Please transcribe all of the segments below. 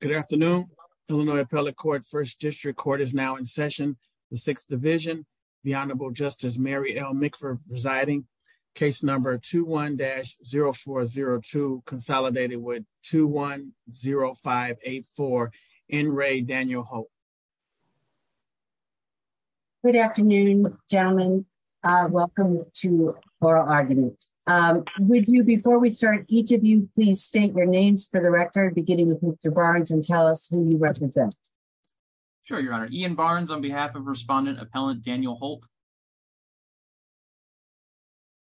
Good afternoon, Illinois Appellate Court First District Court is now in session, the Sixth Division, the Honorable Justice Mary L. McPherson presiding case number 21-0402 consolidated with 210584 N. Ray Daniel Holt. Good afternoon, gentlemen. Welcome to oral argument. Would you before we start each of you please state your names for the record beginning with Mr Barnes and tell us who you represent. Sure, your honor Ian Barnes on behalf of respondent appellant Daniel Holt.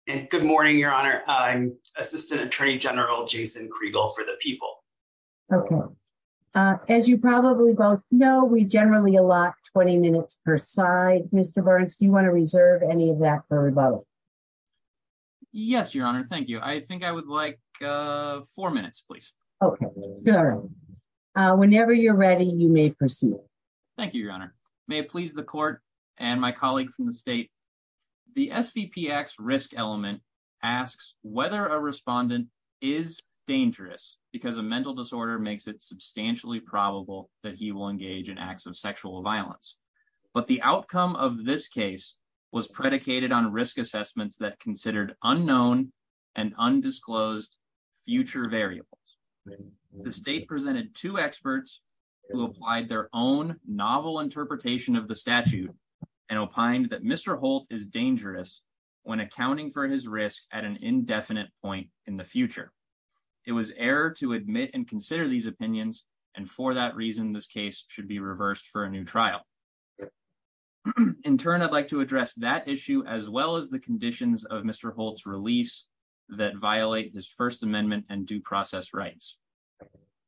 Good morning, your honor. I'm Assistant Attorney General Jason Kregel for the people. Okay. As you probably both know we generally a lot 20 minutes per side, Mr. Burns, do you want to reserve any of that for rebuttal. Yes, your honor. Thank you. I think I would like four minutes, please. Okay, good. Whenever you're ready, you may proceed. Thank you, your honor. May it please the court, and my colleague from the state. The SVP X risk element asks whether a respondent is dangerous, because a mental disorder makes it substantially probable that he will engage in acts of sexual violence, but the outcome of this case was predicated on risk assessments that considered unknown and undisclosed future variables. The state presented to experts who applied their own novel interpretation of the statute and opined that Mr Holt is dangerous when accounting for his risk at an indefinite point in the future. It was error to admit and consider these opinions, and for that reason this case should be reversed for a new trial. In turn, I'd like to address that issue as well as the conditions of Mr Holt's release that violate this First Amendment and due process rights.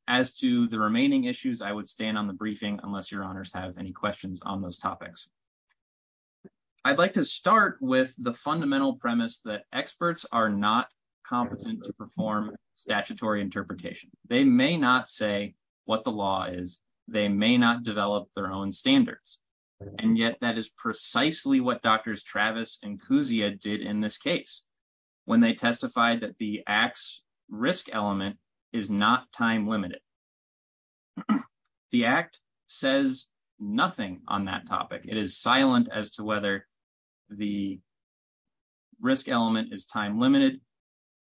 As to the remaining issues I would stand on the briefing, unless your honors have any questions on those topics. I'd like to start with the fundamental premise that experts are not competent to perform statutory interpretation, they may not say what the law is, they may not develop their own standards. And yet that is precisely what Drs. Travis and Kousia did in this case, when they testified that the X risk element is not time limited. The Act says nothing on that topic, it is silent as to whether the risk element is time limited.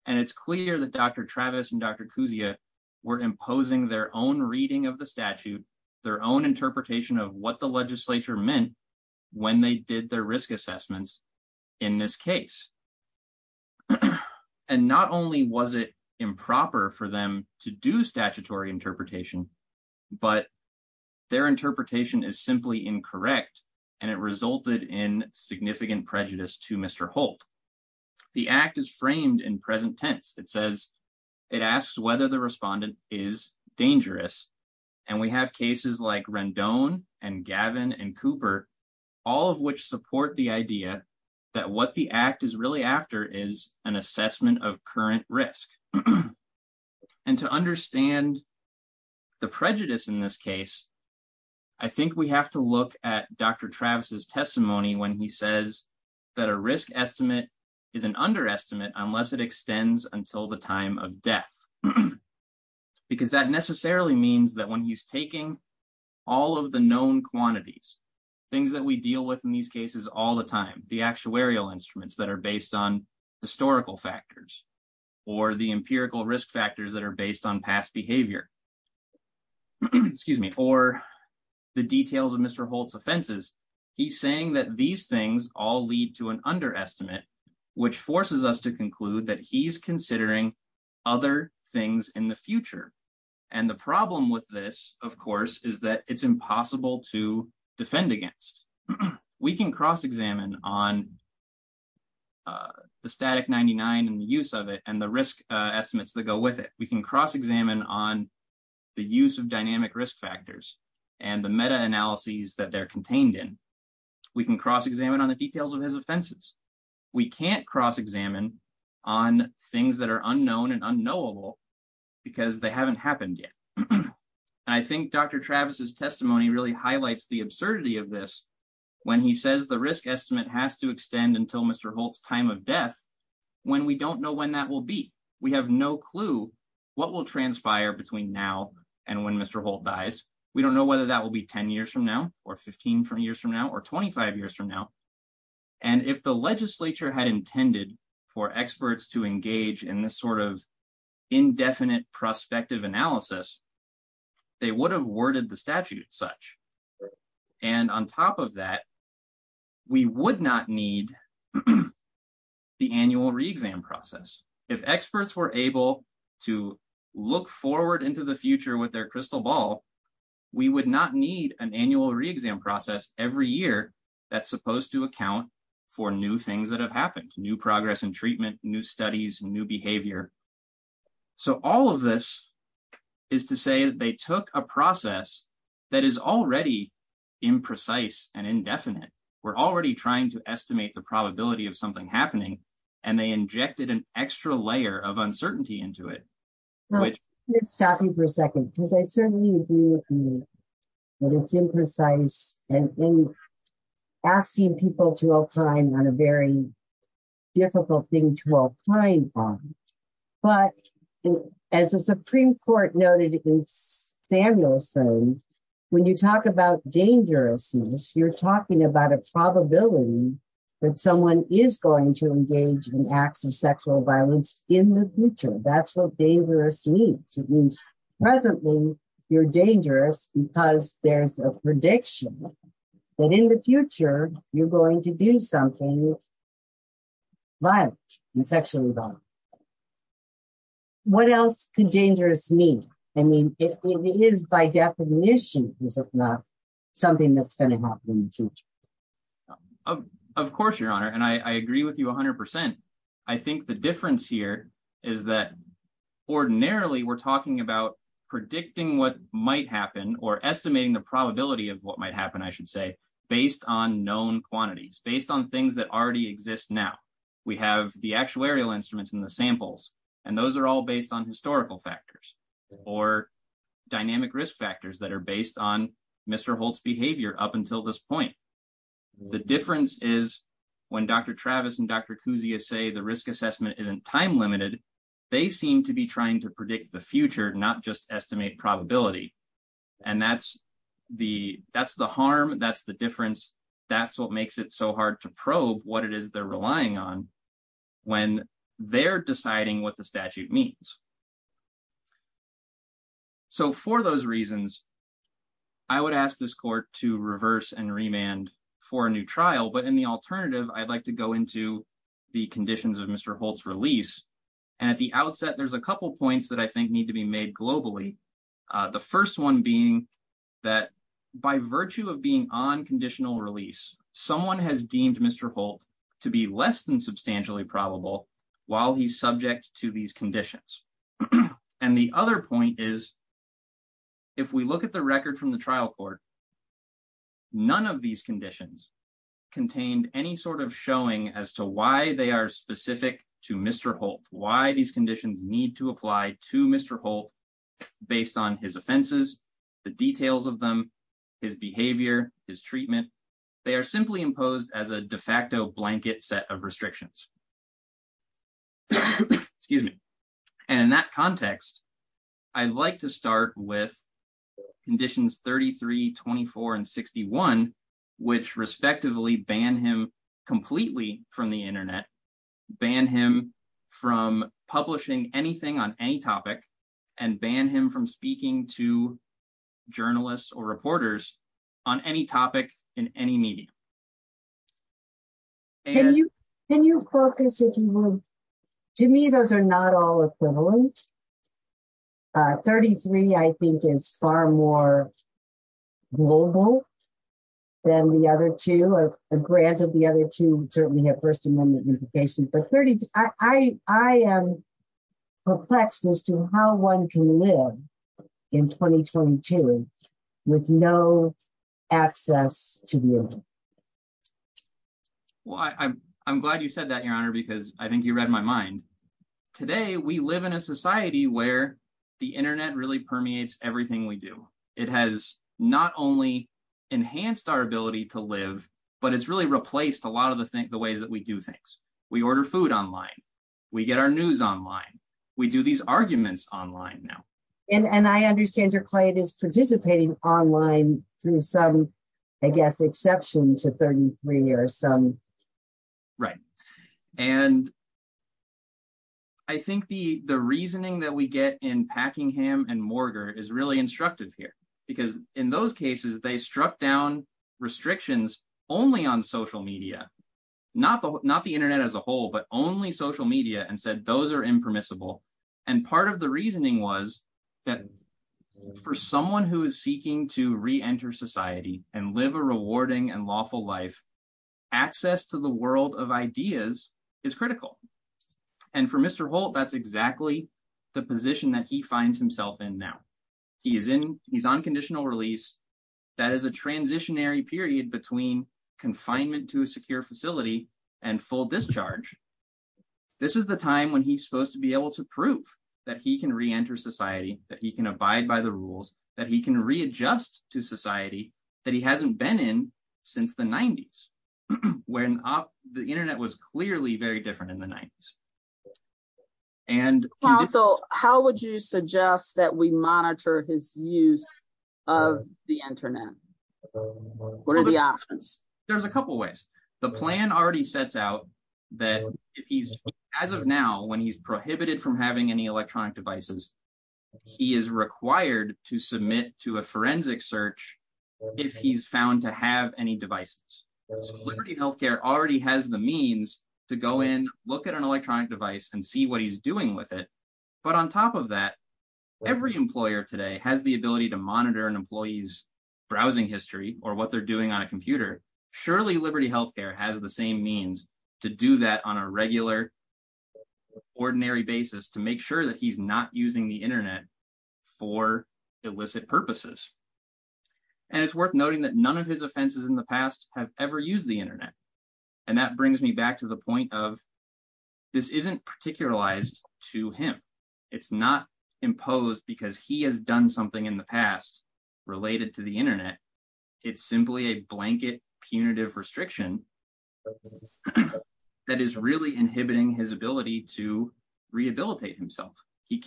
And it's clear that Dr. Travis and Dr. Kousia were imposing their own reading of the statute, their own interpretation of what the legislature meant when they did their risk assessments in this case. And not only was it improper for them to do statutory interpretation, but their interpretation is simply incorrect, and it resulted in significant prejudice to Mr. Holt. The Act is framed in present tense, it says, it asks whether the respondent is dangerous, and we have cases like Rendon and Gavin and Cooper, all of which support the idea that what the Act is really after is an assessment of current risk. And to understand the prejudice in this case, I think we have to look at Dr. Travis's testimony when he says that a risk estimate is an underestimate unless it extends until the time of death. Because that necessarily means that when he's taking all of the known quantities, things that we deal with in these cases all the time, the actuarial instruments that are based on historical factors, or the empirical risk factors that are based on past behavior. Excuse me, or the details of Mr. Holt's offenses. He's saying that these things all lead to an underestimate, which forces us to conclude that he's considering other things in the future. And the problem with this, of course, is that it's impossible to defend against. We can cross examine on the static 99 and the use of it and the risk estimates that go with it, we can cross examine on the use of dynamic risk factors, and the meta analyses that they're contained in. We can cross examine on the details of his offenses. We can't cross examine on things that are unknown and unknowable, because they haven't happened yet. I think Dr. Travis's testimony really highlights the absurdity of this, when he says the risk estimate has to extend until Mr. Holt's time of death, when we don't know when that will be. We have no clue what will transpire between now and when Mr. Holt dies. We don't know whether that will be 10 years from now, or 15 years from now, or 25 years from now. And if the legislature had intended for experts to engage in this sort of indefinite prospective analysis, they would have worded the statute such. And on top of that, we would not need the annual re-exam process. If experts were able to look forward into the future with their crystal ball, we would not need an annual re-exam process every year that's supposed to account for new things that have happened, new progress and treatment, new studies, new behavior. So all of this is to say that they took a process that is already imprecise and indefinite. We're already trying to estimate the probability of something happening, and they injected an extra layer of uncertainty into it. Let me stop you for a second, because I certainly agree with you that it's imprecise and asking people to opine on a very difficult thing to opine on. But as the Supreme Court noted in Samuelson, when you talk about dangerousness, you're talking about a probability that someone is going to engage in acts of sexual violence in the future. That's what dangerous means. Presently, you're dangerous because there's a prediction that in the future, you're going to do something violent and sexually violent. What else could dangerous mean? I mean, if it is by definition, is it not something that's going to happen in the future? Of course, Your Honor, and I agree with you 100%. I think the difference here is that ordinarily we're talking about predicting what might happen or estimating the probability of what might happen, I should say, based on known quantities, based on things that already exist now. We have the actuarial instruments and the samples, and those are all based on historical factors or dynamic risk factors that are based on Mr. Holt's behavior up until this point. The difference is when Dr. Travis and Dr. Kuzia say the risk assessment isn't time-limited, they seem to be trying to predict the future, not just estimate probability. And that's the harm, that's the difference, that's what makes it so hard to probe what it is they're relying on when they're deciding what the statute means. So for those reasons, I would ask this court to reverse and remand for a new trial. But in the alternative, I'd like to go into the conditions of Mr. Holt's release. And at the outset, there's a couple points that I think need to be made globally. The first one being that by virtue of being on conditional release, someone has deemed Mr. Holt to be less than substantially probable while he's subject to these conditions. And the other point is, if we look at the record from the trial court, none of these conditions contained any sort of showing as to why they are specific to Mr. Holt, why these conditions need to apply to Mr. Holt based on his offenses, the details of them, his behavior, his treatment. They are simply imposed as a de facto blanket set of restrictions. Excuse me. And in that context, I'd like to start with conditions 33, 24, and 61, which respectively ban him completely from the internet, ban him from publishing anything on any topic, and ban him from speaking to journalists or reporters on any topic in any media. Can you focus if you will? To me, those are not all equivalent. 33, I think, is far more global than the other two. Granted, the other two certainly have First Amendment unification, but I am perplexed as to how one can live in 2022 with no access to the internet. Well, I'm glad you said that, Your Honor, because I think you read my mind. Today, we live in a society where the internet really permeates everything we do. It has not only enhanced our ability to live, but it's really replaced a lot of the ways that we do things. We order food online. We get our news online. We do these arguments online now. And I understand your client is participating online through some, I guess, exception to 33 or some. Right. And I think the reasoning that we get in Packingham and Morger is really instructive here, because in those cases, they struck down restrictions only on social media, not the internet as a whole, but only social media and said those are impermissible. And part of the reasoning was that for someone who is seeking to reenter society and live a rewarding and lawful life, access to the world of ideas is critical. And for Mr. Holt, that's exactly the position that he finds himself in now. He's on conditional release. That is a transitionary period between confinement to a secure facility and full discharge. This is the time when he's supposed to be able to prove that he can reenter society, that he can abide by the rules, that he can readjust to society that he hasn't been in since the 90s, when the internet was clearly very different in the 90s. And also, how would you suggest that we monitor his use of the internet? What are the options? There's a couple ways. The plan already sets out that if he's, as of now, when he's prohibited from having any electronic devices, he is required to submit to a forensic search if he's found to have any devices. So Liberty Healthcare already has the means to go in, look at an electronic device and see what he's doing with it. But on top of that, every employer today has the ability to monitor an employee's browsing history or what they're doing on a computer. Surely Liberty Healthcare has the same means to do that on a regular, ordinary basis to make sure that he's not using the internet for illicit purposes. And it's worth noting that none of his offenses in the past have ever used the internet. And that brings me back to the point of, this isn't particularized to him. It's not imposed because he has done something in the past related to the internet. It's simply a blanket punitive restriction that is really inhibiting his ability to rehabilitate himself.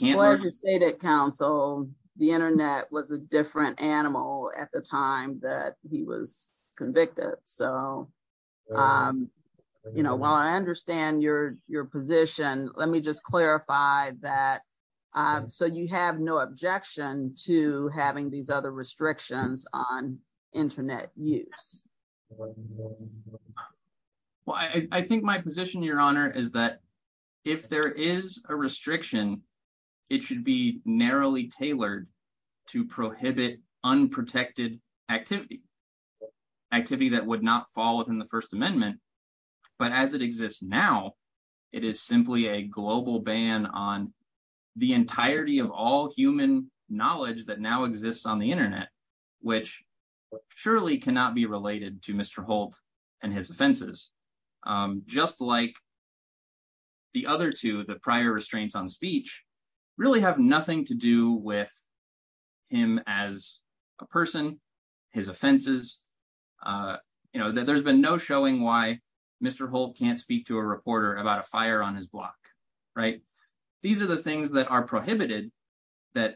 Well, as you stated, counsel, the internet was a different animal at the time that he was convicted. So, you know, while I understand your position, let me just clarify that. So you have no objection to having these other restrictions on internet use? Well, I think my position, Your Honor, is that if there is a restriction, it should be narrowly tailored to prohibit unprotected activity. Activity that would not fall within the First Amendment. But as it exists now, it is simply a global ban on the entirety of all human knowledge that now exists on the internet, which surely cannot be related to Mr. Holt and his offenses. Just like the other two, the prior restraints on speech, really have nothing to do with him as a person, his offenses. You know, there's been no showing why Mr. Holt can't speak to a reporter about a fire on his block, right? These are the things that are prohibited that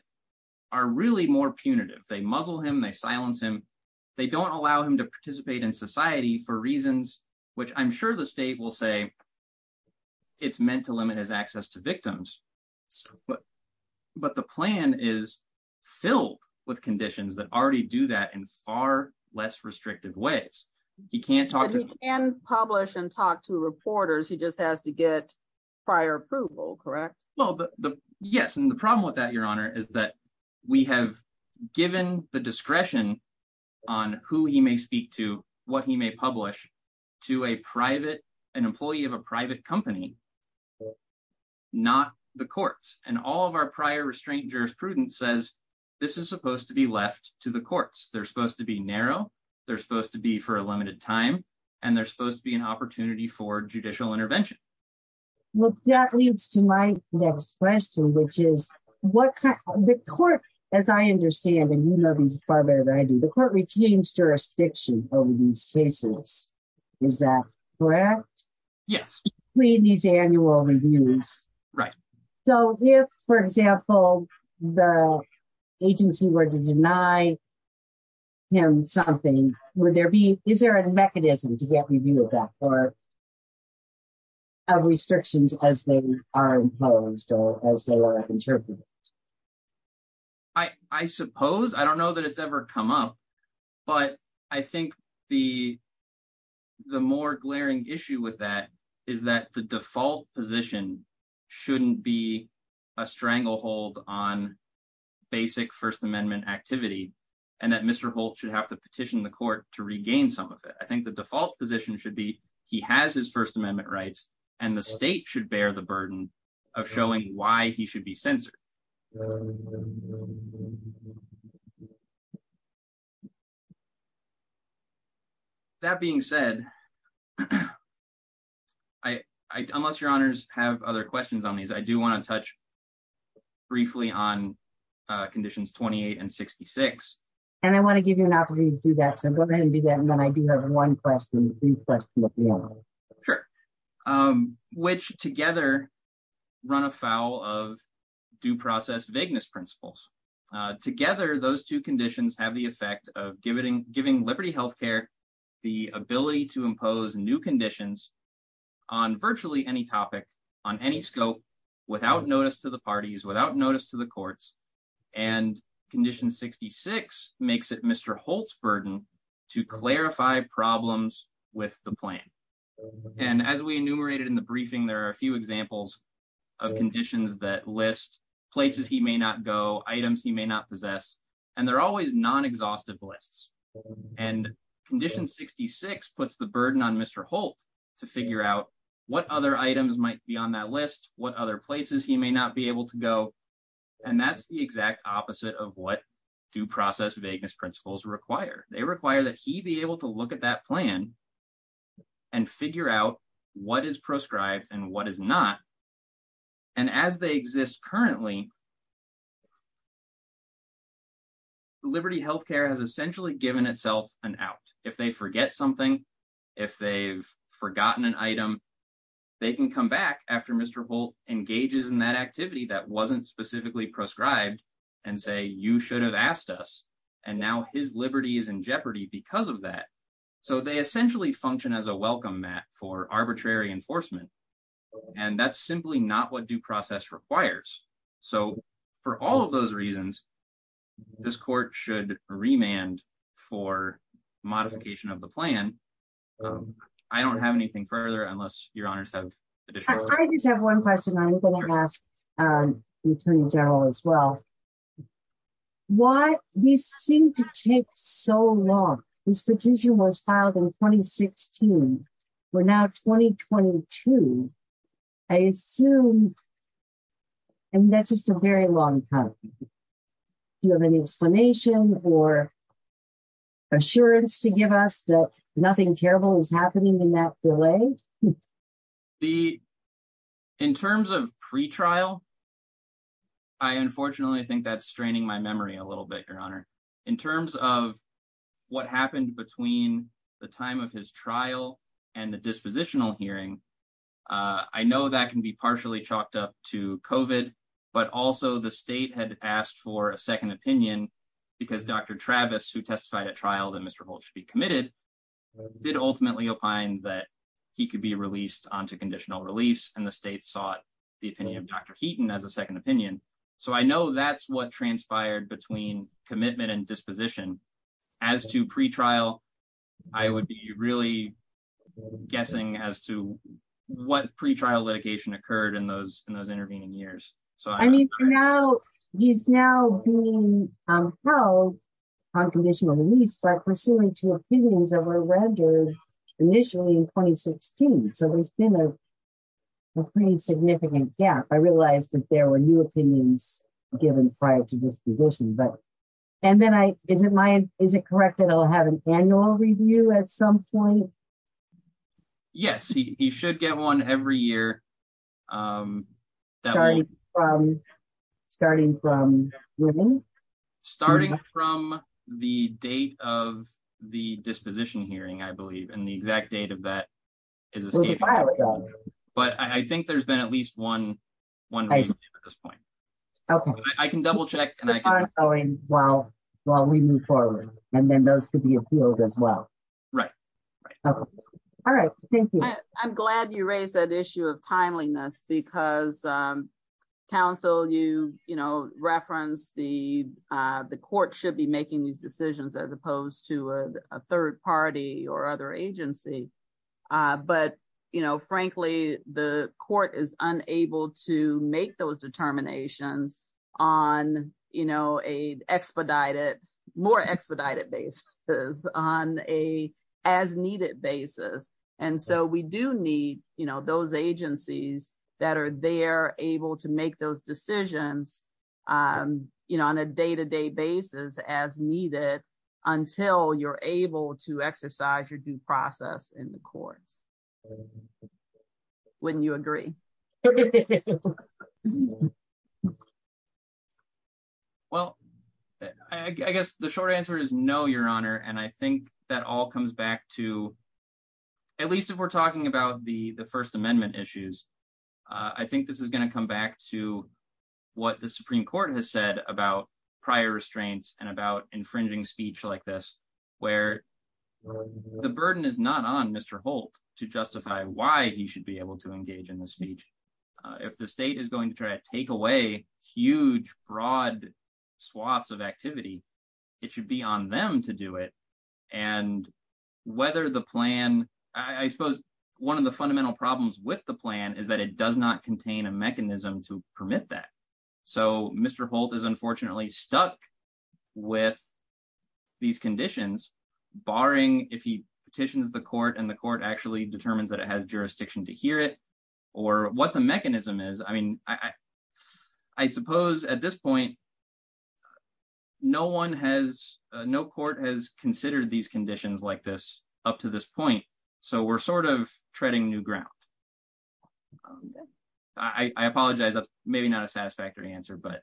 are really more punitive. They muzzle him, they silence him. They don't allow him to participate in society for reasons which I'm sure the state will say it's meant to limit his access to victims. But the plan is filled with conditions that already do that in far less restrictive ways. He can't talk to... Yes, and the problem with that, Your Honor, is that we have given the discretion on who he may speak to, what he may publish, to an employee of a private company, not the courts. And all of our prior restraint jurisprudence says this is supposed to be left to the courts. They're supposed to be narrow, they're supposed to be for a limited time, and they're supposed to be an opportunity for judicial intervention. Well, that leads to my next question, which is, the court, as I understand, and you know this far better than I do, the court retains jurisdiction over these cases. Is that correct? Yes. Between these annual reviews. Right. So if, for example, the agency were to deny him something, would there be, is there a mechanism to get review of that, or of restrictions as they are imposed or as they are interpreted? I suppose. I don't know that it's ever come up. But I think the more glaring issue with that is that the default position shouldn't be a stranglehold on basic First Amendment activity, and that Mr. Holt should have to petition the court to regain some of it. I think the default position should be, he has his First Amendment rights, and the state should bear the burden of showing why he should be censored. That being said, unless your honors have other questions on these, I do want to touch briefly on conditions 28 and 66. And I want to give you an opportunity to do that, so go ahead and do that, and then I do have one question. Sure. Which together run afoul of due process vagueness principles. Together, those two conditions have the effect of giving liberty health care, the ability to impose new conditions on virtually any topic on any scope, without notice to the parties, without notice to the courts, and condition 66 makes it Mr. Holt's burden to clarify problems with the plan. And as we enumerated in the briefing there are a few examples of conditions that list places he may not go items he may not possess, and they're always non exhaustive lists and condition 66 puts the burden on Mr. Holt to figure out what other items might be on that list, what other places he may not be able to go. And that's the exact opposite of what due process vagueness principles require, they require that he be able to look at that plan and figure out what is prescribed and what is not. And as they exist currently liberty health care has essentially given itself an out, if they forget something. If they've forgotten an item. They can come back after Mr Holt engages in that activity that wasn't specifically prescribed and say you should have asked us. And now his liberties and jeopardy because of that. So they essentially function as a welcome mat for arbitrary enforcement. And that's simply not what due process requires. So, for all of those reasons, this court should remand for modification of the plan. I don't have anything further unless your honors have one question I'm going to ask the Attorney General as well. Why we seem to take so long. This petition was filed in 2016. We're now 2022. I assume. And that's just a very long time. You have any explanation or assurance to give us that nothing terrible is happening in that delay. The. In terms of pre trial. I unfortunately think that's straining my memory a little bit your honor. In terms of what happened between the time of his trial, and the dispositional hearing. I know that can be partially chalked up to coven, but also the state had asked for a second opinion, because Dr. Travis who testified at trial that Mr Holt should be committed did ultimately opine that he could be released on to conditional release and the state sought the opinion of Dr. Keaton as a second opinion. So I know that's what transpired between commitment and disposition as to pre trial, I would be really guessing as to what pre trial litigation occurred in those in those intervening years. So, I mean, now, he's now being held on conditional release by pursuing two opinions that were rendered initially in 2016 so there's been a pretty significant gap I realized that there were new opinions, given prior to disposition but. And then I didn't mind. Is it correct that I'll have an annual review at some point. Yes, he should get one every year. Starting from women, starting from the date of the disposition hearing I believe and the exact date of that is. But I think there's been at least one. Okay, I can double check. Well, while we move forward, and then those could be a field as well. Right. All right. Thank you. I'm glad you raised that issue of timeliness because counsel you, you know, reference the, the court should be making these decisions as opposed to a third party or other agency. But, you know, frankly, the court is unable to make those determinations on, you know, a expedited more expedited basis on a as needed basis. And so we do need, you know, those agencies that are there, able to make those decisions, you know, on a day to day basis as needed until you're able to exercise your due process in the courts. When you agree. Well, I guess the short answer is no, Your Honor, and I think that all comes back to at least if we're talking about the the First Amendment issues. I think this is going to come back to what the Supreme Court has said about prior restraints and about infringing speech like this, where the burden is not on Mr Holt to justify why he should be able to engage in the speech. If the state is going to try to take away huge broad swaths of activity. It should be on them to do it. And whether the plan, I suppose, one of the fundamental problems with the plan is that it does not contain a mechanism to permit that. So, Mr Holt is unfortunately stuck with these conditions, barring if he petitions the court and the court actually determines that it has jurisdiction to hear it, or what the mechanism is, I mean, I, I suppose at this point. No one has no court has considered these conditions like this, up to this point. So we're sort of treading new ground. I apologize, maybe not a satisfactory answer but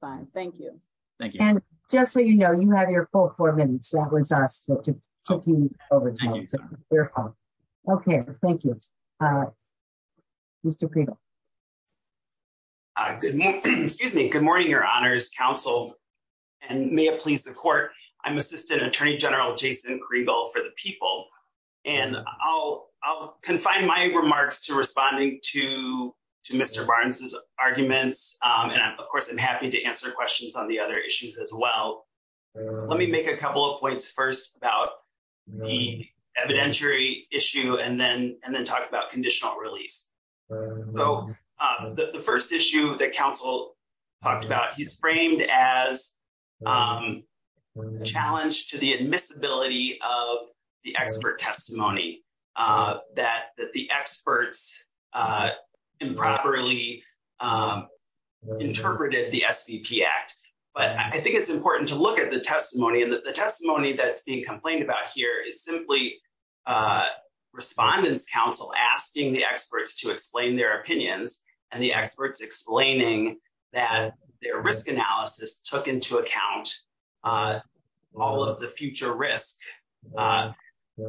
fine. Thank you. Thank you. And just so you know you have your full four minutes that was us to take you over. Okay, thank you. Mr. Good morning. Excuse me. Good morning, Your Honor's counsel, and may it please the court. I'm Assistant Attorney General Jason Grego for the people. And I'll, I'll confine my remarks to responding to, to Mr Barnes's arguments, and of course I'm happy to answer questions on the other issues as well. Let me make a couple of points first about the evidentiary issue and then, and then talk about conditional release. So, the first issue that counsel talked about he's framed as challenged to the admissibility of the expert testimony that the experts improperly interpreted the act. But I think it's important to look at the testimony and the testimony that's being complained about here is simply respondents counsel asking the experts to explain their opinions and the experts explaining that their risk analysis took into account. All of the future risk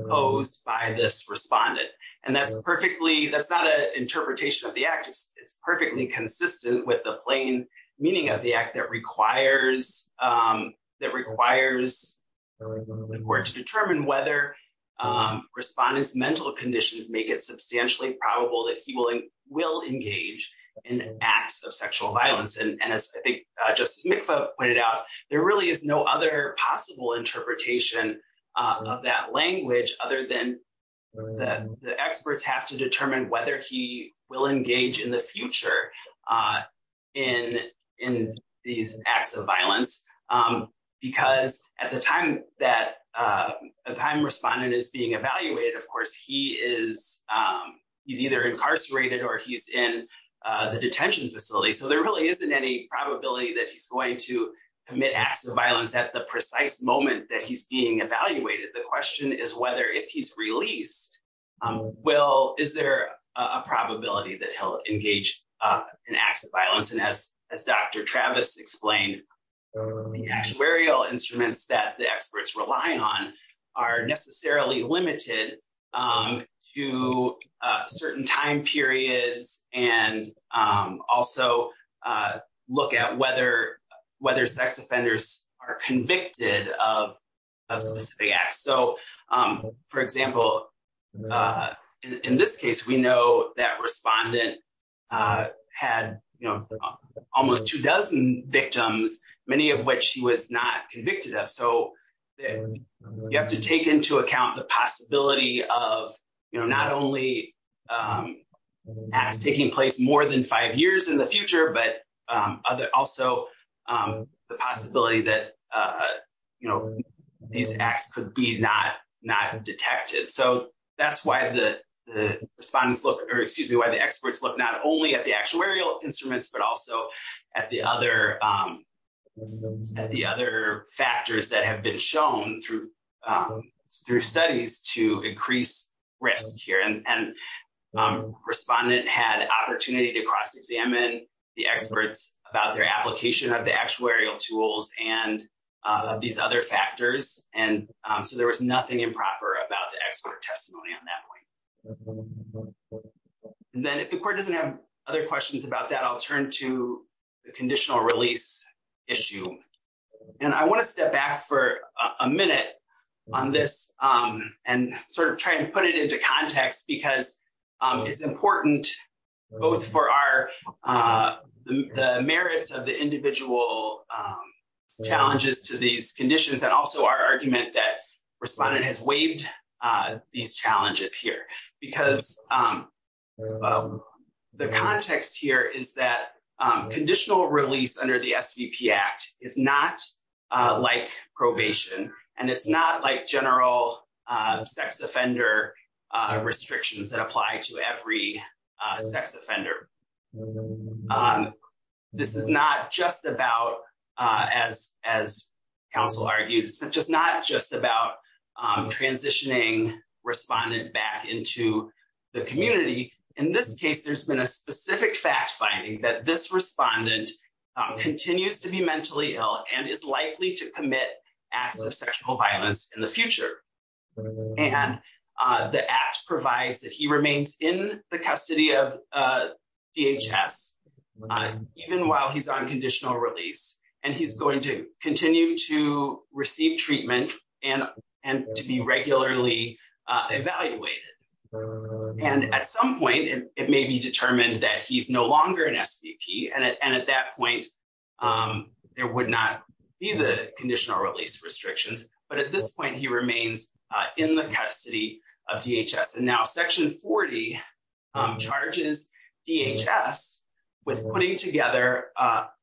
posed by this respondent, and that's perfectly that's not an interpretation of the actors, it's perfectly consistent with the plain meaning of the act that requires that requires the court to determine whether respondents mental conditions make it substantially probable that he will, will engage in acts of sexual violence and as I think Justice Mikva pointed out, there really is no other possible interpretation of that language, other than the experts have to determine whether he will engage in the future. In, in these acts of violence, because at the time that a time respondent is being evaluated of course he is, he's either incarcerated or he's in the detention facility so there really isn't any probability that he's going to commit acts of violence at the precise moment that he's being evaluated the question is whether if he's released. Well, is there a probability that he'll engage in acts of violence and as, as Dr. Travis explained, the actuarial instruments that the experts rely on are necessarily limited to certain time periods, and also look at whether, whether sex offenders are convicted of specific acts so, for example, in this case we know that respondent had almost two dozen victims, many of which he was not convicted of so you have to take into account the possibility of, you know, not only as taking place more than five years in the future but also the possibility that, you know, these acts could be not, not detected so that's why the respondents look or excuse me why the experts look not only at the actuarial instruments but also at the other, at the other factors that have been shown through through studies to increase risk here and respondent had opportunity to cross examine the experts about their application of the actuarial tools and these other factors, and so there was nothing improper about the expert testimony on that point. And then if the court doesn't have other questions about that I'll turn to the conditional release issue. And I want to step back for a minute on this, and sort of try and put it into context because it's important, both for our merits of the individual challenges to these conditions and also our argument that respondent has waived these challenges here, because the context here is that conditional release under the SVP Act is not like probation, and it's not like general sex offender restrictions that apply to every sex offender. This is not just about, as, as counsel argues, just not just about transitioning respondent back into the community. In this case, there's been a specific fact finding that this respondent continues to be mentally ill and is likely to commit acts of sexual violence in the future. And the act provides that he remains in the custody of DHS, even while he's on conditional release, and he's going to continue to receive treatment and, and to be regularly evaluated. And at some point, it may be determined that he's no longer an SVP and at that point, there would not be the conditional release restrictions, but at this point he remains in the custody of DHS and now section 40 charges DHS with putting together.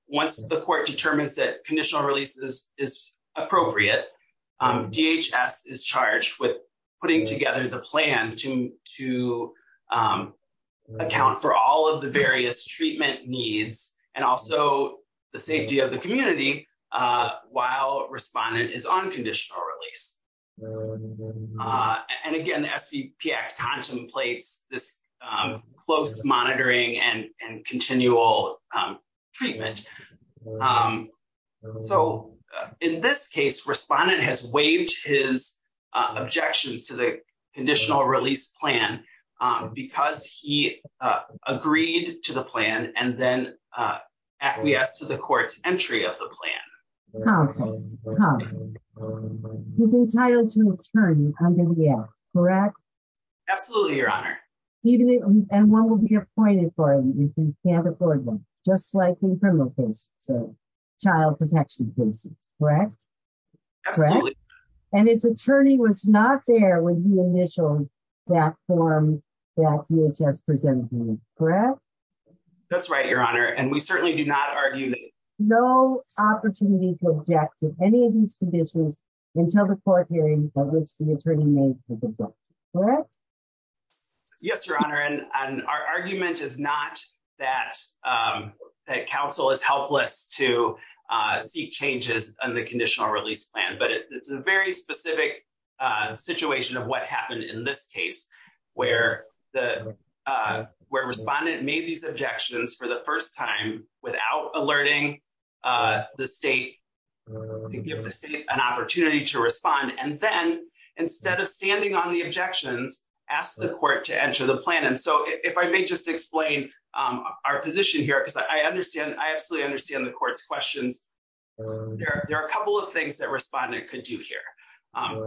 Once the court determines that conditional releases is appropriate, DHS is charged with putting together the plan to, to account for all of the various treatment needs, and also the safety of the community, while respondent is on conditional release. And again, the SVP Act contemplates this close monitoring and continual treatment. So, in this case respondent has waived his objections to the conditional release plan, because he agreed to the plan and then acquiesced to the court's entry of the plan. Counsel, Counsel, he's entitled to an attorney under the Act, correct? Absolutely, Your Honor. And one will be appointed for him if he can't afford one, just like in criminal cases or child protection cases, correct? Absolutely. And his attorney was not there when he initialed that form that DHS presented to him, correct? That's right, Your Honor, and we certainly do not argue that. There was no opportunity to object to any of these conditions until the court hearing that the attorney made for the court, correct? Yes, Your Honor, and our argument is not that, that counsel is helpless to seek changes on the conditional release plan, but it's a very specific situation of what happened in this case, where the, where respondent made these objections for the first time without alerting the state to give the state an opportunity to respond. And then, instead of standing on the objections, asked the court to enter the plan. And so, if I may just explain our position here, because I understand, I absolutely understand the court's questions. There are a couple of things that respondent could do here.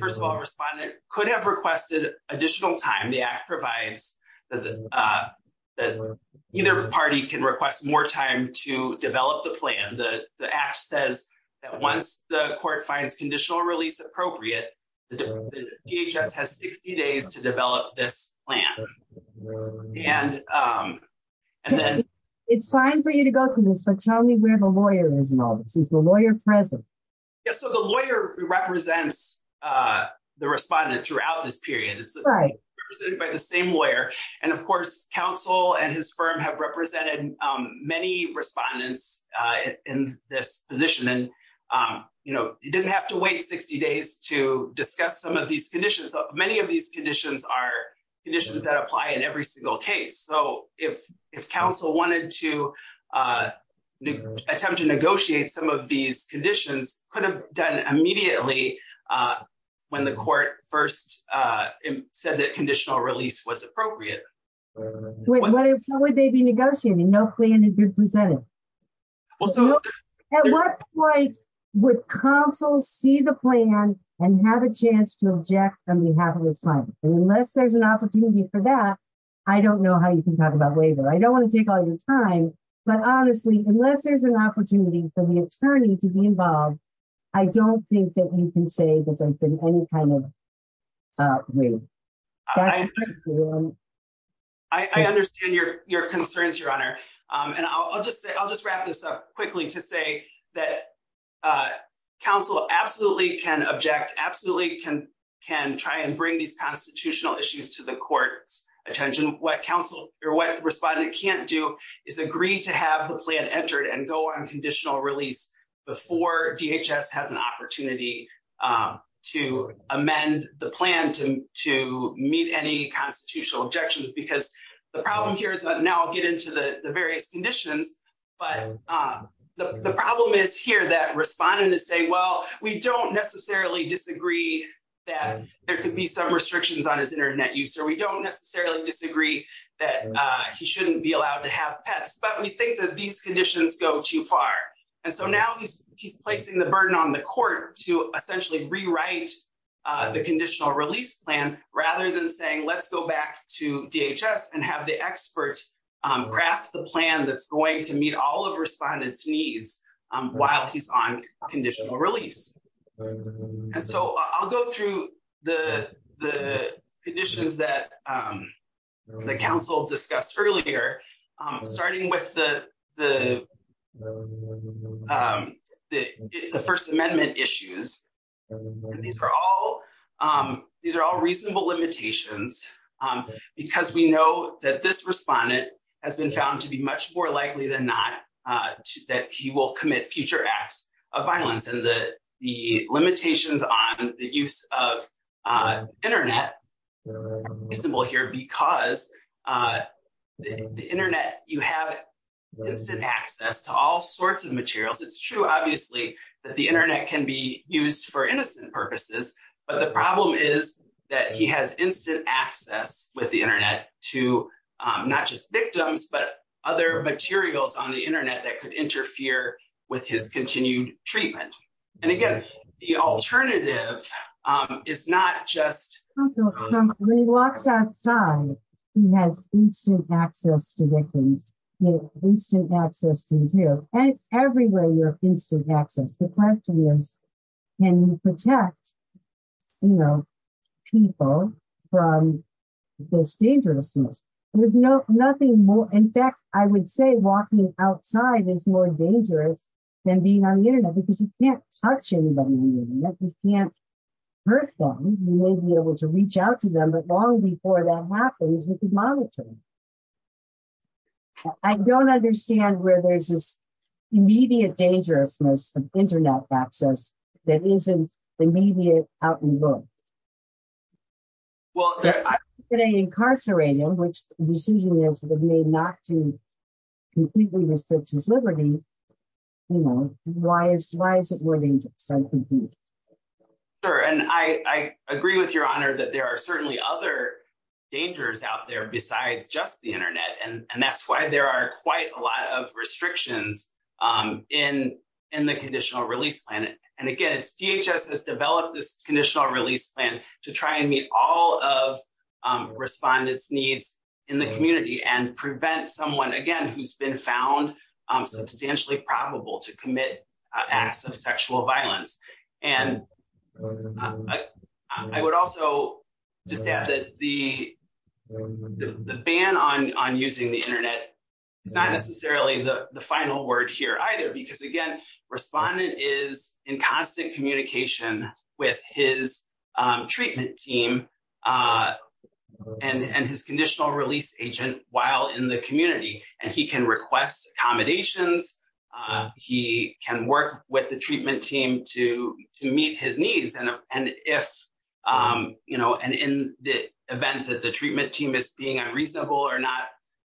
First of all, respondent could have requested additional time. The Act provides that either party can request more time to develop the plan. The Act says that once the court finds conditional release appropriate, the DHS has 60 days to develop this plan. And then… It's fine for you to go through this, but tell me where the lawyer is involved. Is the lawyer present? Yes, so the lawyer represents the respondent throughout this period. It's represented by the same lawyer. And, of course, counsel and his firm have represented many respondents in this position. And, you know, you didn't have to wait 60 days to discuss some of these conditions. Many of these conditions are conditions that apply in every single case. So, if counsel wanted to attempt to negotiate some of these conditions, could have done immediately when the court first said that conditional release was appropriate. How would they be negotiating? No plan had been presented. At what point would counsel see the plan and have a chance to object on behalf of his client? Unless there's an opportunity for that, I don't know how you can talk about waiver. I don't want to take all your time, but honestly, unless there's an opportunity for the attorney to be involved, I don't think that we can say that there's been any kind of waiver. I understand your concerns, Your Honor. And I'll just wrap this up quickly to say that counsel absolutely can object, absolutely can try and bring these constitutional issues to the court's attention. What the respondent can't do is agree to have the plan entered and go on conditional release before DHS has an opportunity to amend the plan to meet any constitutional objections. Because the problem here is that now I'll get into the various conditions. But the problem is here that respondent is saying, well, we don't necessarily disagree that there could be some restrictions on his internet use. Or we don't necessarily disagree that he shouldn't be allowed to have pets. But we think that these conditions go too far. And so now he's placing the burden on the court to essentially rewrite the conditional release plan rather than saying, let's go back to DHS and have the experts craft the plan that's going to meet all of respondents' needs while he's on conditional release. And so I'll go through the conditions that the counsel discussed earlier, starting with the First Amendment issues. These are all reasonable limitations because we know that this respondent has been found to be much more likely than not that he will commit future acts of violence. And the limitations on the use of internet are reasonable here because the internet, you have instant access to all sorts of materials. It's true, obviously, that the internet can be used for innocent purposes. But the problem is that he has instant access with the internet to not just victims, but other materials on the internet that could interfere with his continued treatment. And again, the alternative is not just... The question is, can you protect people from this dangerousness? In fact, I would say walking outside is more dangerous than being on the internet because you can't touch anybody on the internet. You can't hurt them. You may be able to reach out to them, but long before that happens, you could monitor them. I don't understand where there's this immediate dangerousness of internet access that isn't immediate out in the world. If you're going to incarcerate him, which the decision is made not to completely restrict his liberty, you know, why is it more dangerous? And I agree with your honor that there are certainly other dangers out there besides just the internet. And that's why there are quite a lot of restrictions in the conditional release plan. And again, DHS has developed this conditional release plan to try and meet all of respondents' needs in the community and prevent someone, again, who's been found substantially probable to commit acts of sexual violence. And I would also just add that the ban on using the internet is not necessarily the final word here either. Because again, respondent is in constant communication with his treatment team and his conditional release agent while in the community. And he can request accommodations. He can work with the treatment team to meet his needs. And if, you know, and in the event that the treatment team is being unreasonable or not,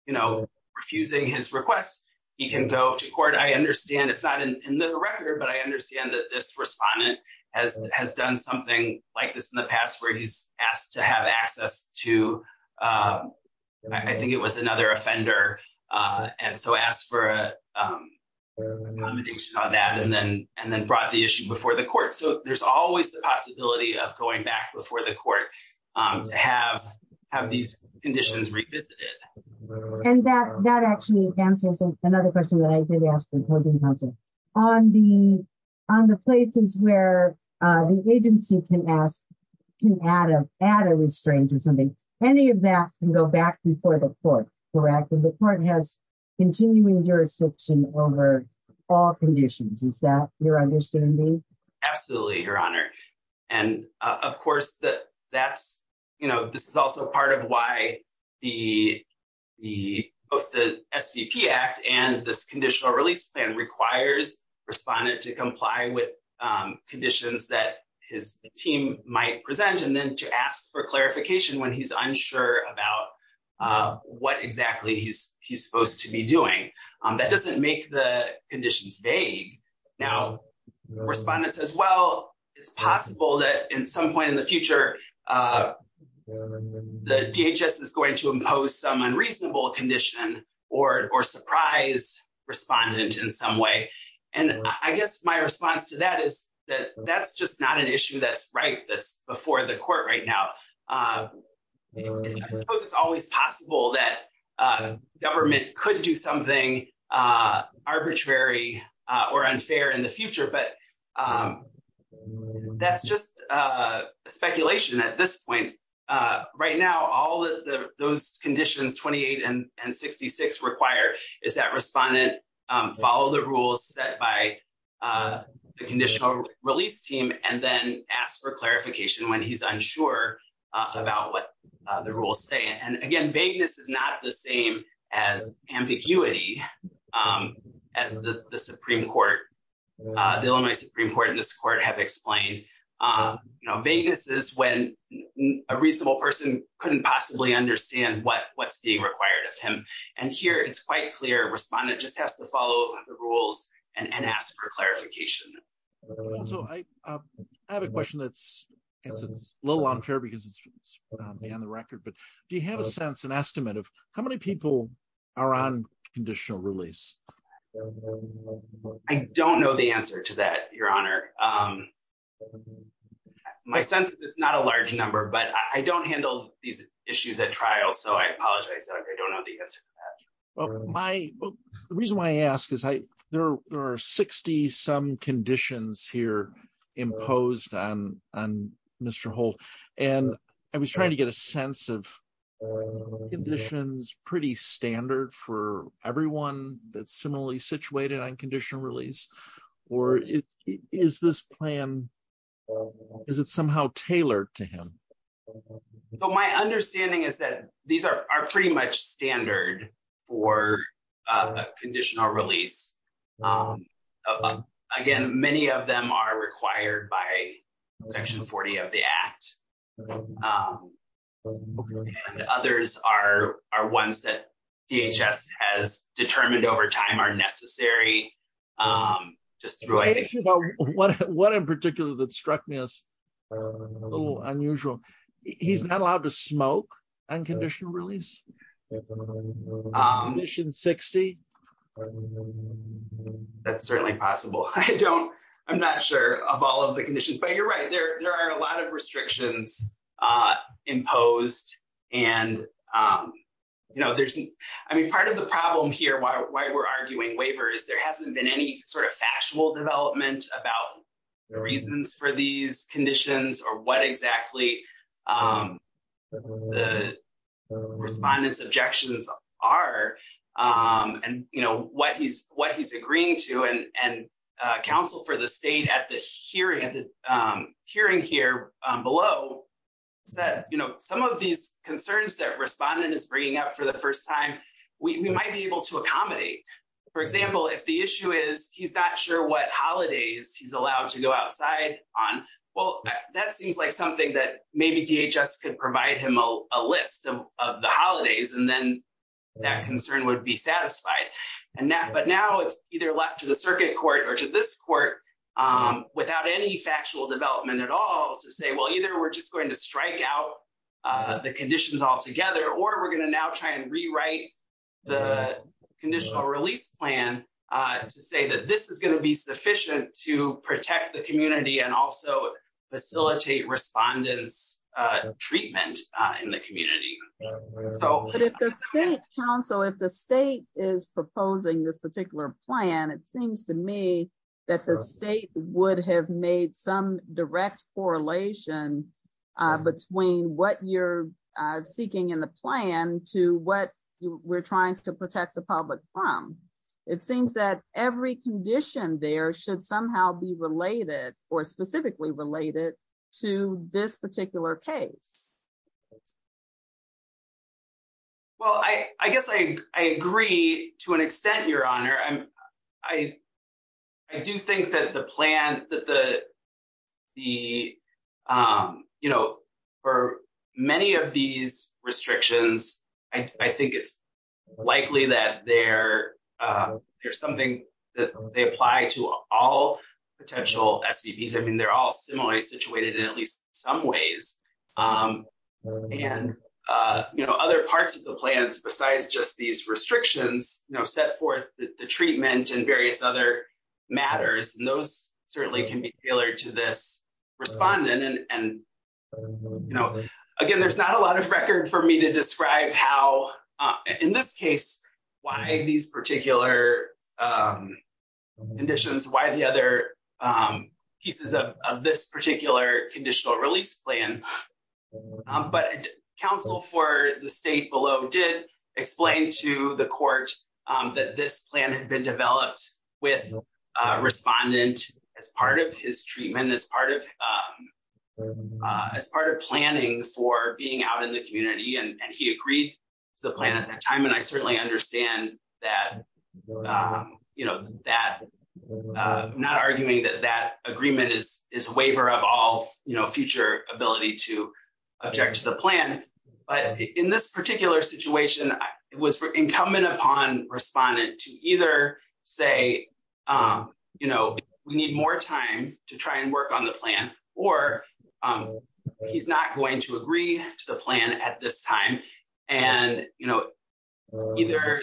you know, refusing his requests, he can go to court. And I understand it's not in the record, but I understand that this respondent has done something like this in the past where he's asked to have access to, I think it was another offender. And so asked for an accommodation on that and then brought the issue before the court. So there's always the possibility of going back before the court to have these conditions revisited. And that actually answers another question that I did ask the opposing counsel. On the places where the agency can ask, can add a restraint or something, any of that can go back before the court, correct? And the court has continuing jurisdiction over all conditions. Is that your understanding? Absolutely, Your Honor. And, of course, that's, you know, this is also part of why the, both the SVP Act and this conditional release plan requires respondent to comply with conditions that his team might present. And then to ask for clarification when he's unsure about what exactly he's supposed to be doing. That doesn't make the conditions vague. Now, respondent says, well, it's possible that in some point in the future, the DHS is going to impose some unreasonable condition or surprise respondent in some way. And I guess my response to that is that that's just not an issue that's right, that's before the court right now. I suppose it's always possible that government could do something arbitrary or unfair in the future, but that's just speculation at this point. Right now, all those conditions 28 and 66 require is that respondent follow the rules set by the conditional release team and then ask for clarification when he's unsure about what the rules say. And again, vagueness is not the same as ambiguity as the Supreme Court, the Illinois Supreme Court and this court have explained. Vagueness is when a reasonable person couldn't possibly understand what's being required of him. And here it's quite clear, respondent just has to follow the rules and ask for clarification. So I have a question that's a little unfair because it's beyond the record, but do you have a sense, an estimate of how many people are on conditional release? I don't know the answer to that, Your Honor. My sense is it's not a large number, but I don't handle these issues at trial, so I apologize. I don't know the answer. The reason why I ask is there are 60 some conditions here imposed on Mr. Holt, and I was trying to get a sense of conditions pretty standard for everyone that's similarly situated on conditional release, or is this plan, is it somehow tailored to him? My understanding is that these are pretty much standard for conditional release. Again, many of them are required by Section 40 of the Act. Others are ones that DHS has determined over time are necessary. One in particular that struck me as a little unusual, he's not allowed to smoke on conditional release? Condition 60? That's certainly possible. I don't, I'm not sure of all of the conditions, but you're right, there are a lot of restrictions imposed. And, you know, there's, I mean, part of the problem here, why we're arguing waiver is there hasn't been any sort of factual development about the reasons for these conditions or what exactly the respondents' objections are. And, you know, what he's agreeing to, and counsel for the state at the hearing here below said, you know, some of these concerns that respondent is bringing up for the first time, we might be able to accommodate. For example, if the issue is he's not sure what holidays he's allowed to go outside on, well, that seems like something that maybe DHS could provide him a list of the holidays, and then that concern would be satisfied. But now it's either left to the circuit court or to this court without any factual development at all to say, well, either we're just going to strike out the conditions altogether, or we're going to now try and rewrite the conditional release plan to say that this is going to be sufficient to protect the community and also facilitate respondents' treatment in the community. But if the state's counsel, if the state is proposing this particular plan, it seems to me that the state would have made some direct correlation between what you're seeking in the plan to what we're trying to protect the public from. It seems that every condition there should somehow be related or specifically related to this particular case. Well, I guess I agree to an extent, Your Honor. I do think that the plan, that the, you know, for many of these restrictions, I think it's likely that there's something that they apply to all potential SVPs. I mean, they're all similarly situated in at least some ways. And, you know, other parts of the plans besides just these restrictions, you know, set forth the treatment and various other matters, and those certainly can be tailored to this respondent. And, you know, again, there's not a lot of record for me to describe how, in this case, why these particular conditions, why the other pieces of this particular conditional release plan. But counsel for the state below did explain to the court that this plan had been developed with a respondent as part of his treatment, as part of planning for being out in the community. And he agreed to the plan at that time. And I certainly understand that, you know, that not arguing that that agreement is a waiver of all future ability to object to the plan. But in this particular situation, it was incumbent upon respondent to either say, you know, we need more time to try and work on the plan, or he's not going to agree to the plan at this time. And, you know, either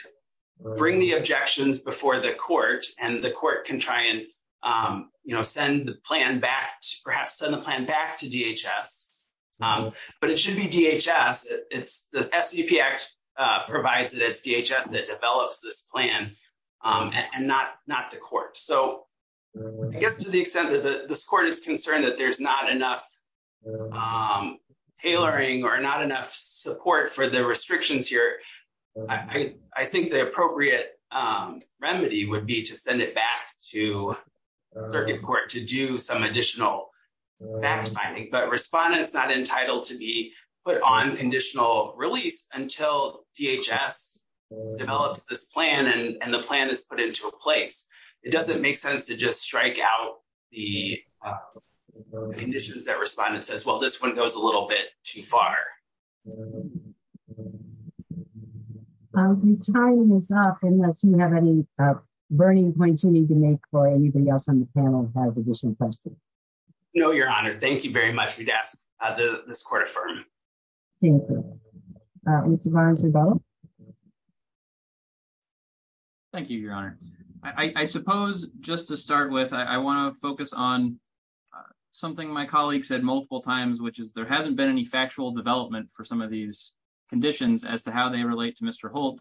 bring the objections before the court and the court can try and, you know, send the plan back, perhaps send the plan back to DHS. But it should be DHS. The SEP Act provides that it's DHS that develops this plan and not the court. So I guess to the extent that this court is concerned that there's not enough tailoring or not enough support for the restrictions here, I think the appropriate remedy would be to send it back to the circuit court to do some additional fact finding. But respondent's not entitled to be put on conditional release until DHS develops this plan and the plan is put into place. It doesn't make sense to just strike out the conditions that respondent says, well, this one goes a little bit too far. I'm tying this up unless you have any burning points you need to make for anything else on the panel has additional questions. No, Your Honor. Thank you very much for this court affirmed. Mr. Barnes. Thank you, Your Honor. I suppose, just to start with, I want to focus on something my colleagues said multiple times, which is there hasn't been any factual development for some of these conditions as to how they relate to Mr.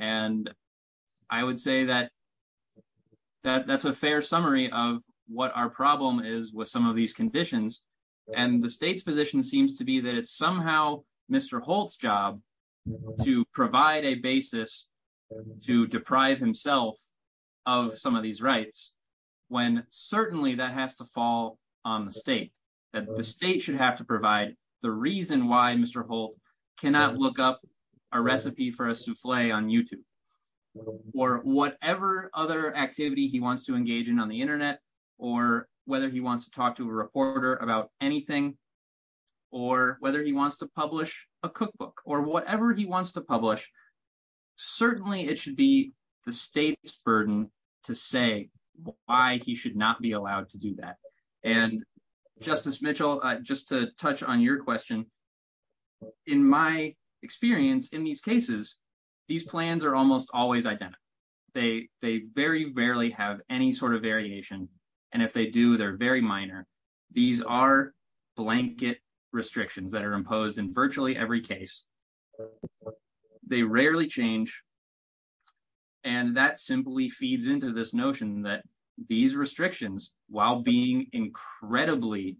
And I would say that that's a fair summary of what our problem is with some of these conditions, and the state's position seems to be that it's somehow, Mr. Holt's job to provide a basis to deprive himself of some of these rights, when certainly that has to fall on the state that the state should have to provide the reason why Mr Holt cannot look up a recipe for a souffle on YouTube, or whatever other activity he wants to engage in on the internet, or whether he wants to talk to a reporter about anything, or whether he wants to publish a cookbook or whatever he wants to publish. Certainly it should be the state's burden to say why he should not be allowed to do that. And Justice Mitchell, just to touch on your question. In my experience, in these cases, these plans are almost always identical. They very rarely have any sort of variation. And if they do, they're very minor. These are blanket restrictions that are imposed in virtually every case. They rarely change. And that simply feeds into this notion that these restrictions, while being incredibly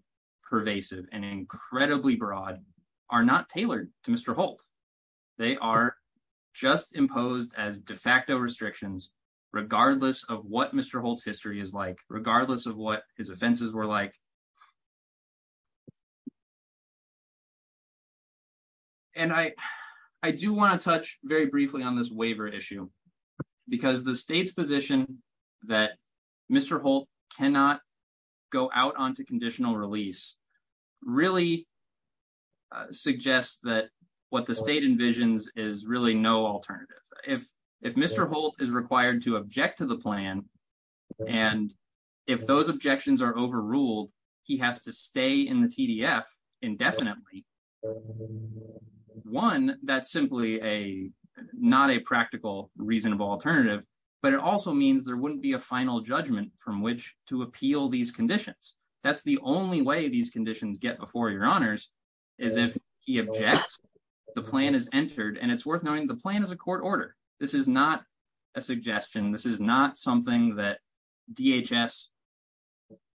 pervasive and incredibly broad, are not tailored to Mr. Holt. They are just imposed as de facto restrictions, regardless of what Mr. Holt's history is like, regardless of what his offenses were like. And I do want to touch very briefly on this waiver issue, because the state's position that Mr. Holt cannot go out onto conditional release really suggests that what the state envisions is really no alternative. If Mr. Holt is required to object to the plan, and if those objections are overruled, he has to stay in the TDF indefinitely. One, that's simply not a practical, reasonable alternative, but it also means there wouldn't be a final judgment from which to appeal these conditions. That's the only way these conditions get before your honors is if he objects, the plan is entered, and it's worth knowing the plan is a court order. This is not a suggestion. This is not something that DHS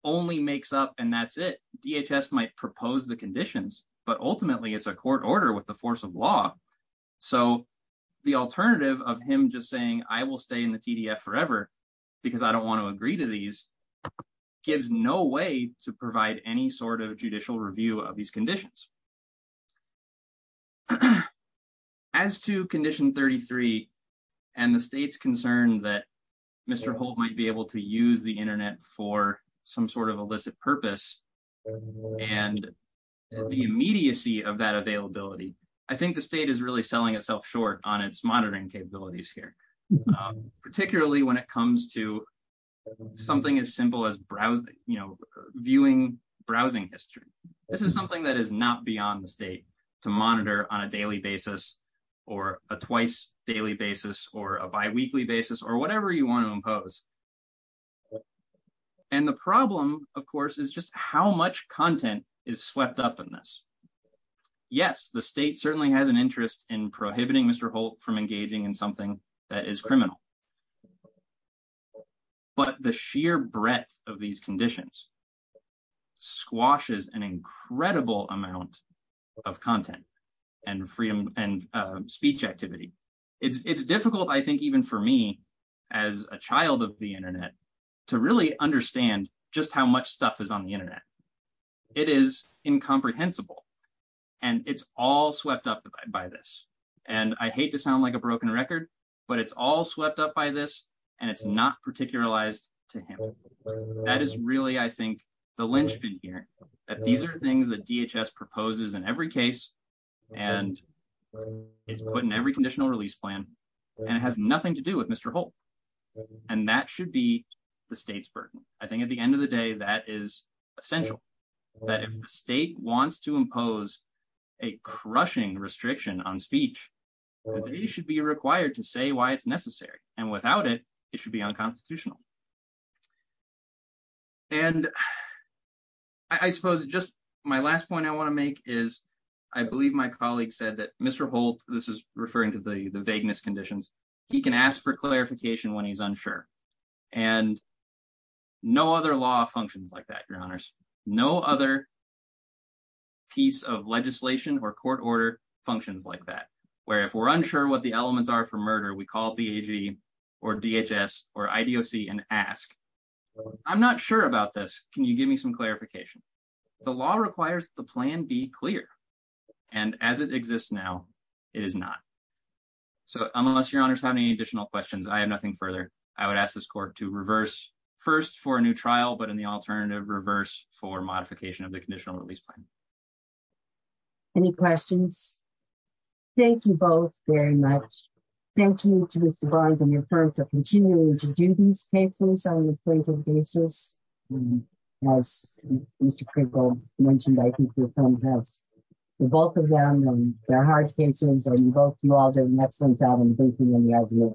only makes up and that's it. DHS might propose the conditions, but ultimately it's a court order with the force of law. So the alternative of him just saying, I will stay in the TDF forever because I don't want to agree to these gives no way to provide any sort of judicial review of these conditions. As to condition 33, and the state's concern that Mr. Holt might be able to use the internet for some sort of illicit purpose, and the immediacy of that availability, I think the state is really selling itself short on its monitoring capabilities here. Particularly when it comes to something as simple as browsing, you know, viewing browsing history. This is something that is not beyond the state to monitor on a daily basis or a twice daily basis or a bi-weekly basis or whatever you want to impose. And the problem, of course, is just how much content is swept up in this. Yes, the state certainly has an interest in prohibiting Mr. Holt from engaging in something that is criminal. But the sheer breadth of these conditions squashes an incredible amount of content and freedom and speech activity. It's difficult, I think, even for me, as a child of the internet, to really understand just how much stuff is on the internet. It is incomprehensible, and it's all swept up by this. And I hate to sound like a broken record, but it's all swept up by this, and it's not particularized to him. That is really, I think, the linchpin here, that these are things that DHS proposes in every case, and it's put in every conditional release plan, and it has nothing to do with Mr. Holt. And that should be the state's burden. I think at the end of the day, that is essential. That if the state wants to impose a crushing restriction on speech, it should be required to say why it's necessary, and without it, it should be unconstitutional. And I suppose just my last point I want to make is I believe my colleague said that Mr. Holt, this is referring to the vagueness conditions, he can ask for clarification when he's unsure. And no other law functions like that, Your Honors. No other piece of legislation or court order functions like that, where if we're unsure what the elements are for murder, we call VAG or DHS or IDOC and ask. I'm not sure about this. Can you give me some clarification? The law requires the plan be clear. And as it exists now, it is not. So unless Your Honors have any additional questions, I have nothing further. I would ask this court to reverse, first for a new trial, but in the alternative, reverse for modification of the conditional release plan. Any questions? Thank you both very much. Thank you to Mr. Barnes and your firm for continuing to do these cases on a regular basis. As Mr. Crinkle mentioned, I think your firm has the bulk of them, and they're hard cases, and both of you all did an excellent job, and thank you.